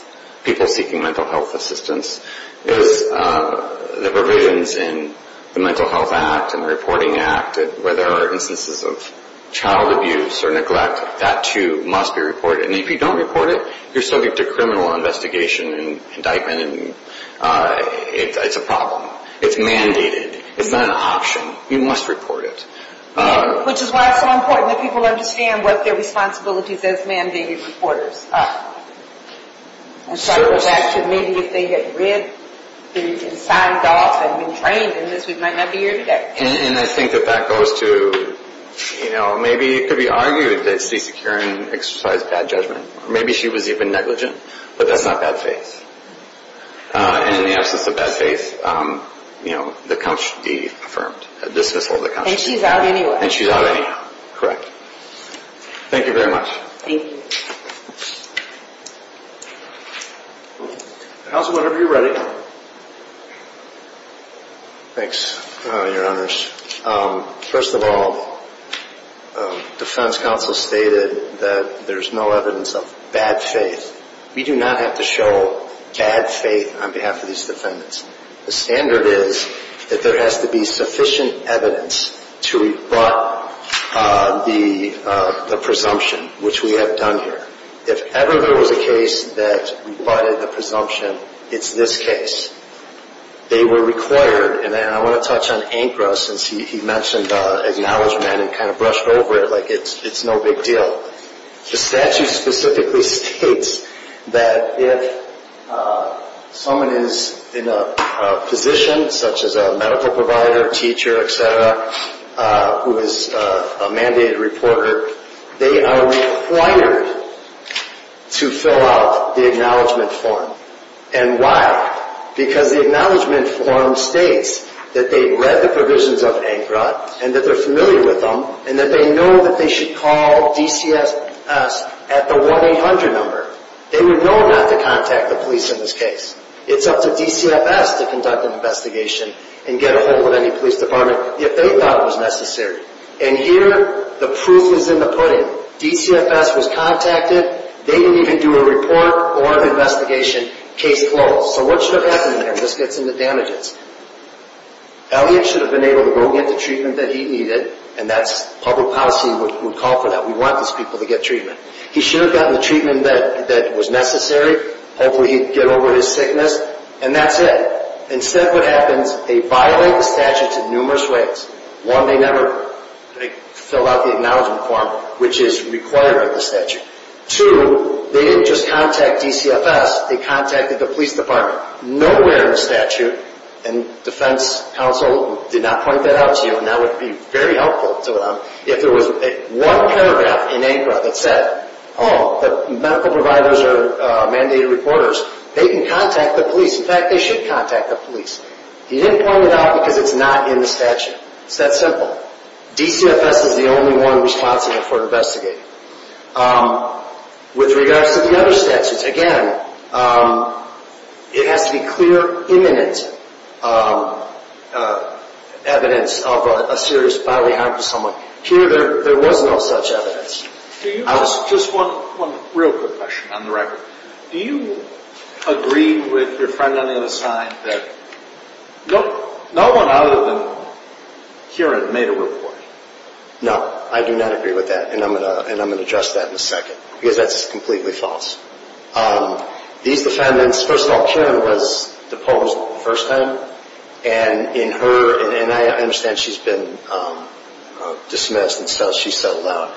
people seeking mental health assistance is the provisions in the Mental Health Act and the Reporting Act where there are instances of child abuse or neglect. That, too, must be reported. And if you don't report it, you're subject to criminal investigation and indictment. It's a problem. It's mandated. It's not an option. You must report it. Which is why it's so important that people understand what their responsibilities as mandated reporters. And so that should mean that if they had read and signed off and been trained in this, we might not be here today. And I think that that goes to, you know, maybe it could be argued that CeCe Curran exercised bad judgment. Maybe she was even negligent, but that's not bad faith. And in the absence of bad faith, you know, the count should be affirmed. A dismissal of the count should be affirmed. And she's out anyway. And she's out anyway, correct. Thank you very much. Thank you. Counsel, whenever you're ready. Thanks, Your Honors. First of all, defense counsel stated that there's no evidence of bad faith. We do not have to show bad faith on behalf of these defendants. The standard is that there has to be sufficient evidence to rebut the presumption, which we have done here. If ever there was a case that rebutted the presumption, it's this case. They were required, and I want to touch on ANCRA, since he mentioned acknowledgment and kind of brushed over it like it's no big deal. The statute specifically states that if someone is in a position, such as a medical provider, teacher, et cetera, who is a mandated reporter, they are required to fill out the acknowledgment form. And why? Because the acknowledgment form states that they've read the provisions of ANCRA and that they're familiar with them, and that they know that they should call DCFS at the 1-800 number. They would know not to contact the police in this case. It's up to DCFS to conduct an investigation and get a hold of any police department if they thought it was necessary. And here the proof is in the pudding. DCFS was contacted. They didn't even do a report or an investigation. Case closed. So what should have happened there? This gets into damages. Elliot should have been able to go get the treatment that he needed, and that's public policy would call for that. We want these people to get treatment. He should have gotten the treatment that was necessary. Hopefully he'd get over his sickness. And that's it. Instead what happens, they violate the statutes in numerous ways. One, they never filled out the acknowledgment form, which is required of the statute. Two, they didn't just contact DCFS. They contacted the police department. Nowhere in the statute, and defense counsel did not point that out to you, and that would be very helpful to them, if there was one paragraph in ANCRA that said, oh, the medical providers are mandated reporters, they can contact the police. In fact, they should contact the police. He didn't point it out because it's not in the statute. It's that simple. DCFS is the only one responsible for investigating. With regards to the other statutes, again, it has to be clear, imminent evidence of a serious bodily harm to someone. Here there was no such evidence. Just one real quick question on the record. Do you agree with your friend on MSI that no one other than Kieran made a report? No. I do not agree with that, and I'm going to address that in a second, because that's completely false. These defendants, first of all, Kieran was deposed the first time, and in her, and I understand she's been dismissed and so she's settled out,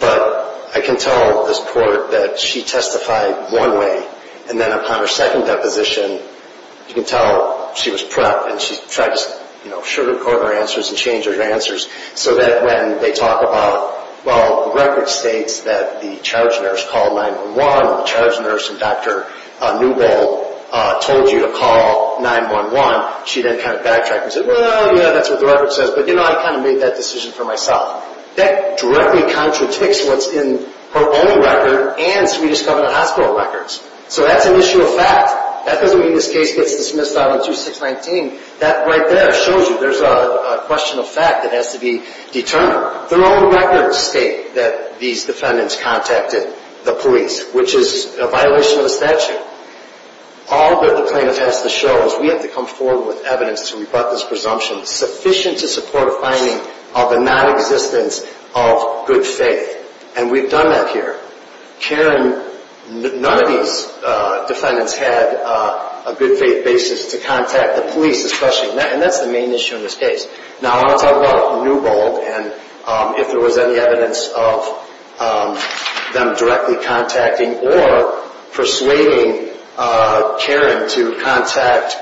but I can tell this court that she testified one way, and then upon her second deposition, you can tell she was prepped and she tried to sugar-coat her answers and change her answers, so that when they talk about, well, the record states that the charge nurse called 911, or the charge nurse and Dr. Newbold told you to call 911, she then kind of backtracked and said, well, yeah, that's what the record says, but, you know, I kind of made that decision for myself. That directly contradicts what's in her own record and Swedish Covenant Hospital records, so that's an issue of fact. That doesn't mean this case gets dismissed on 2619. That right there shows you there's a question of fact that has to be determined. Their own records state that these defendants contacted the police, which is a violation of the statute. All that the plaintiff has to show is we have to come forward with evidence and we brought this presumption sufficient to support a finding of a nonexistence of good faith, and we've done that here. Karen, none of these defendants had a good faith basis to contact the police, and that's the main issue in this case. Now, I want to talk about Newbold and if there was any evidence of them directly contacting or persuading Karen to contact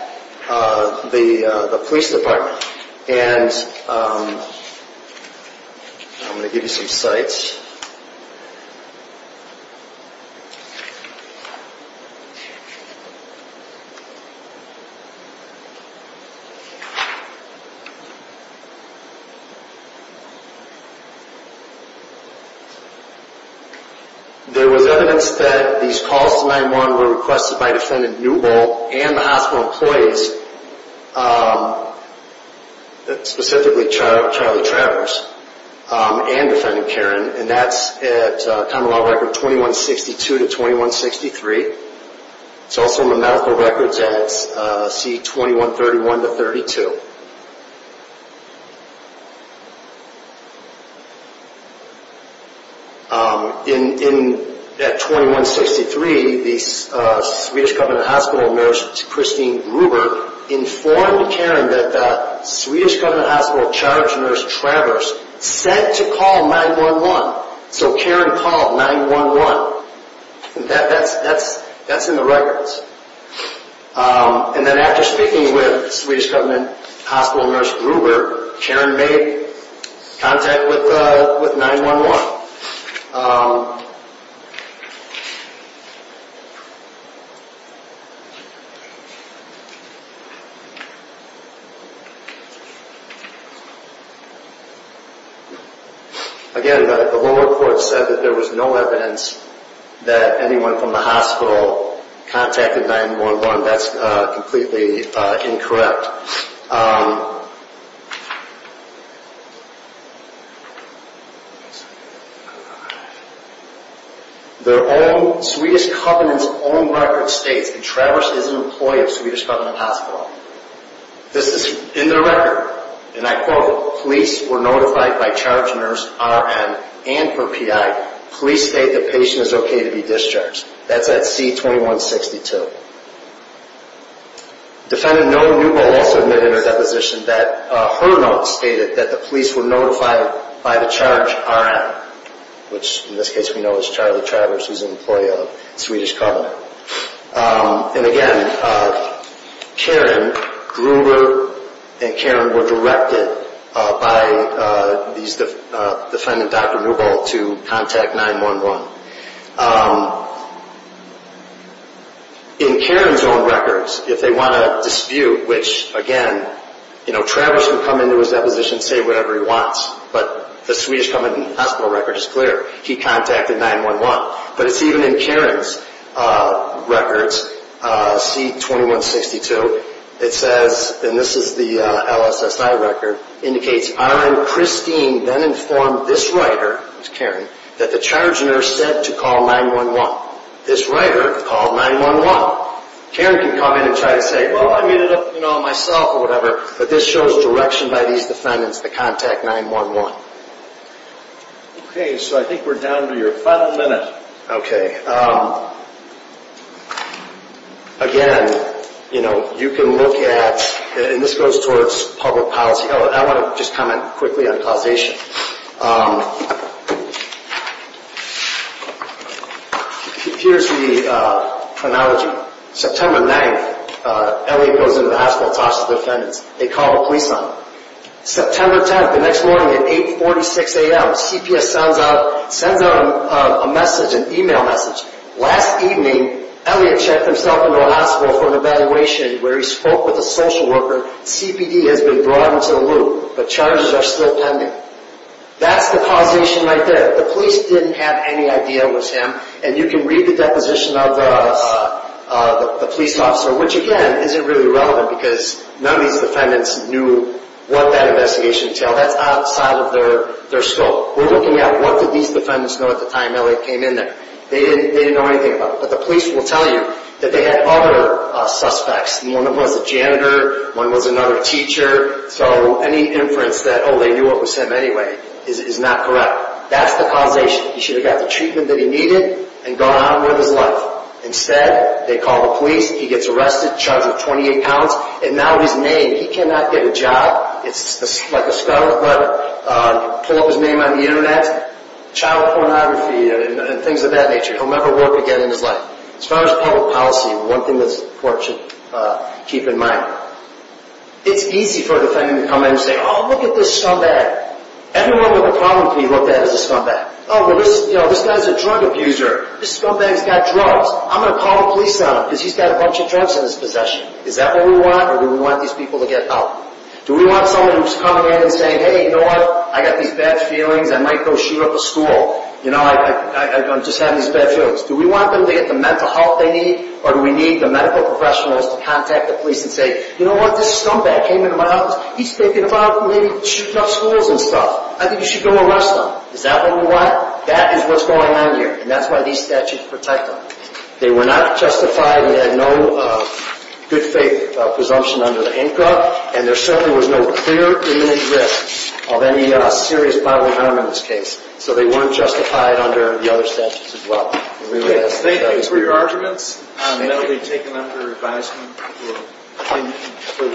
the police department. And I'm going to give you some sites. There was evidence that these calls to 9-1-1 were requested by defendant Newbold and the hospital employees, specifically Charlie Travers and defendant Karen, and that's at County Law Record 2162-2163. It's also in the medical records at C-2131-32. At 2163, the Swedish Covenant Hospital nurse, Christine Gruber, informed Karen that the Swedish Covenant Hospital charge nurse, Travers, said to call 9-1-1. So Karen called 9-1-1. And then after speaking with Swedish Covenant Hospital nurse Gruber, Karen made contact with 9-1-1. Again, the law report said that there was no evidence that anyone from the hospital contacted 9-1-1. That's completely incorrect. The Swedish Covenant's own record states that Travers is an employee of Swedish Covenant Hospital. This is in their record. And I quote, police were notified by charge nurse, RN, and her PI, police state the patient is okay to be discharged. That's at C-2162. Defendant Noe Newbold also admitted in her deposition that her notes stated that the police were notified by the charge RN, which in this case we know is Charlie Travers, who's an employee of Swedish Covenant. And again, Karen, Gruber, and Karen were directed by defendant Dr. Newbold to contact 9-1-1. In Karen's own records, if they want to dispute, which again, Travers can come into his deposition and say whatever he wants, but the Swedish Covenant Hospital record is clear. He contacted 9-1-1. But it's even in Karen's records, C-2162. It says, and this is the LSSI record, indicates RN Christine then informed this writer, that's Karen, that the charge nurse said to call 9-1-1. This writer called 9-1-1. Karen can come in and try to say, well, I made it up myself or whatever, but this shows direction by these defendants to contact 9-1-1. Okay, so I think we're down to your final minute. Okay. Again, you know, you can look at, and this goes towards public policy. I want to just comment quickly on causation. Here's the chronology. September 9th, Elliot goes into the hospital, talks to the defendants. They call a police officer. September 10th, the next morning at 8.46 a.m., CPS sends out a message, an e-mail message. Last evening, Elliot checked himself into a hospital for an evaluation where he spoke with a social worker. CPD has been brought into the loop, but charges are still pending. That's the causation right there. The police didn't have any idea it was him, and you can read the deposition of the police officer, which, again, isn't really relevant because none of these defendants knew what that investigation entailed. That's outside of their scope. We're looking at what did these defendants know at the time Elliot came in there. They didn't know anything about it, but the police will tell you that they had other suspects, and one of them was a janitor, one was another teacher, so any inference that, oh, they knew it was him anyway is not correct. That's the causation. He should have got the treatment that he needed and gone on with his life. Instead, they call the police. He gets arrested, charged with 28 counts, and now his name. He cannot get a job. It's like a scarlet letter. Pull up his name on the Internet. Child pornography and things of that nature. He'll never work again in his life. As far as public policy, one thing the court should keep in mind, it's easy for a defendant to come in and say, oh, look at this scumbag. Everyone with a problem can be looked at as a scumbag. Oh, but this guy's a drug abuser. This scumbag's got drugs. I'm going to call the police on him because he's got a bunch of drugs in his possession. Is that what we want, or do we want these people to get out? Do we want someone who's coming in and saying, hey, you know what? I got these bad feelings. I might go shoot up a school. You know, I'm just having these bad feelings. Do we want them to get the mental health they need, or do we need the medical professionals to contact the police and say, you know what, this scumbag came into my house. He's thinking about maybe shooting up schools and stuff. I think you should go arrest him. Is that what we want? That is what's going on here, and that's why these statutes were typed up. They were not justified. They had no good faith presumption under the ANCA, and there certainly was no clear imminent risk of any serious bodily harm in this case, so they weren't justified under the other statutes as well. Okay. Thank you for your arguments. That will be taken under advisement for further discussion. Okay. Thanks. Thank you.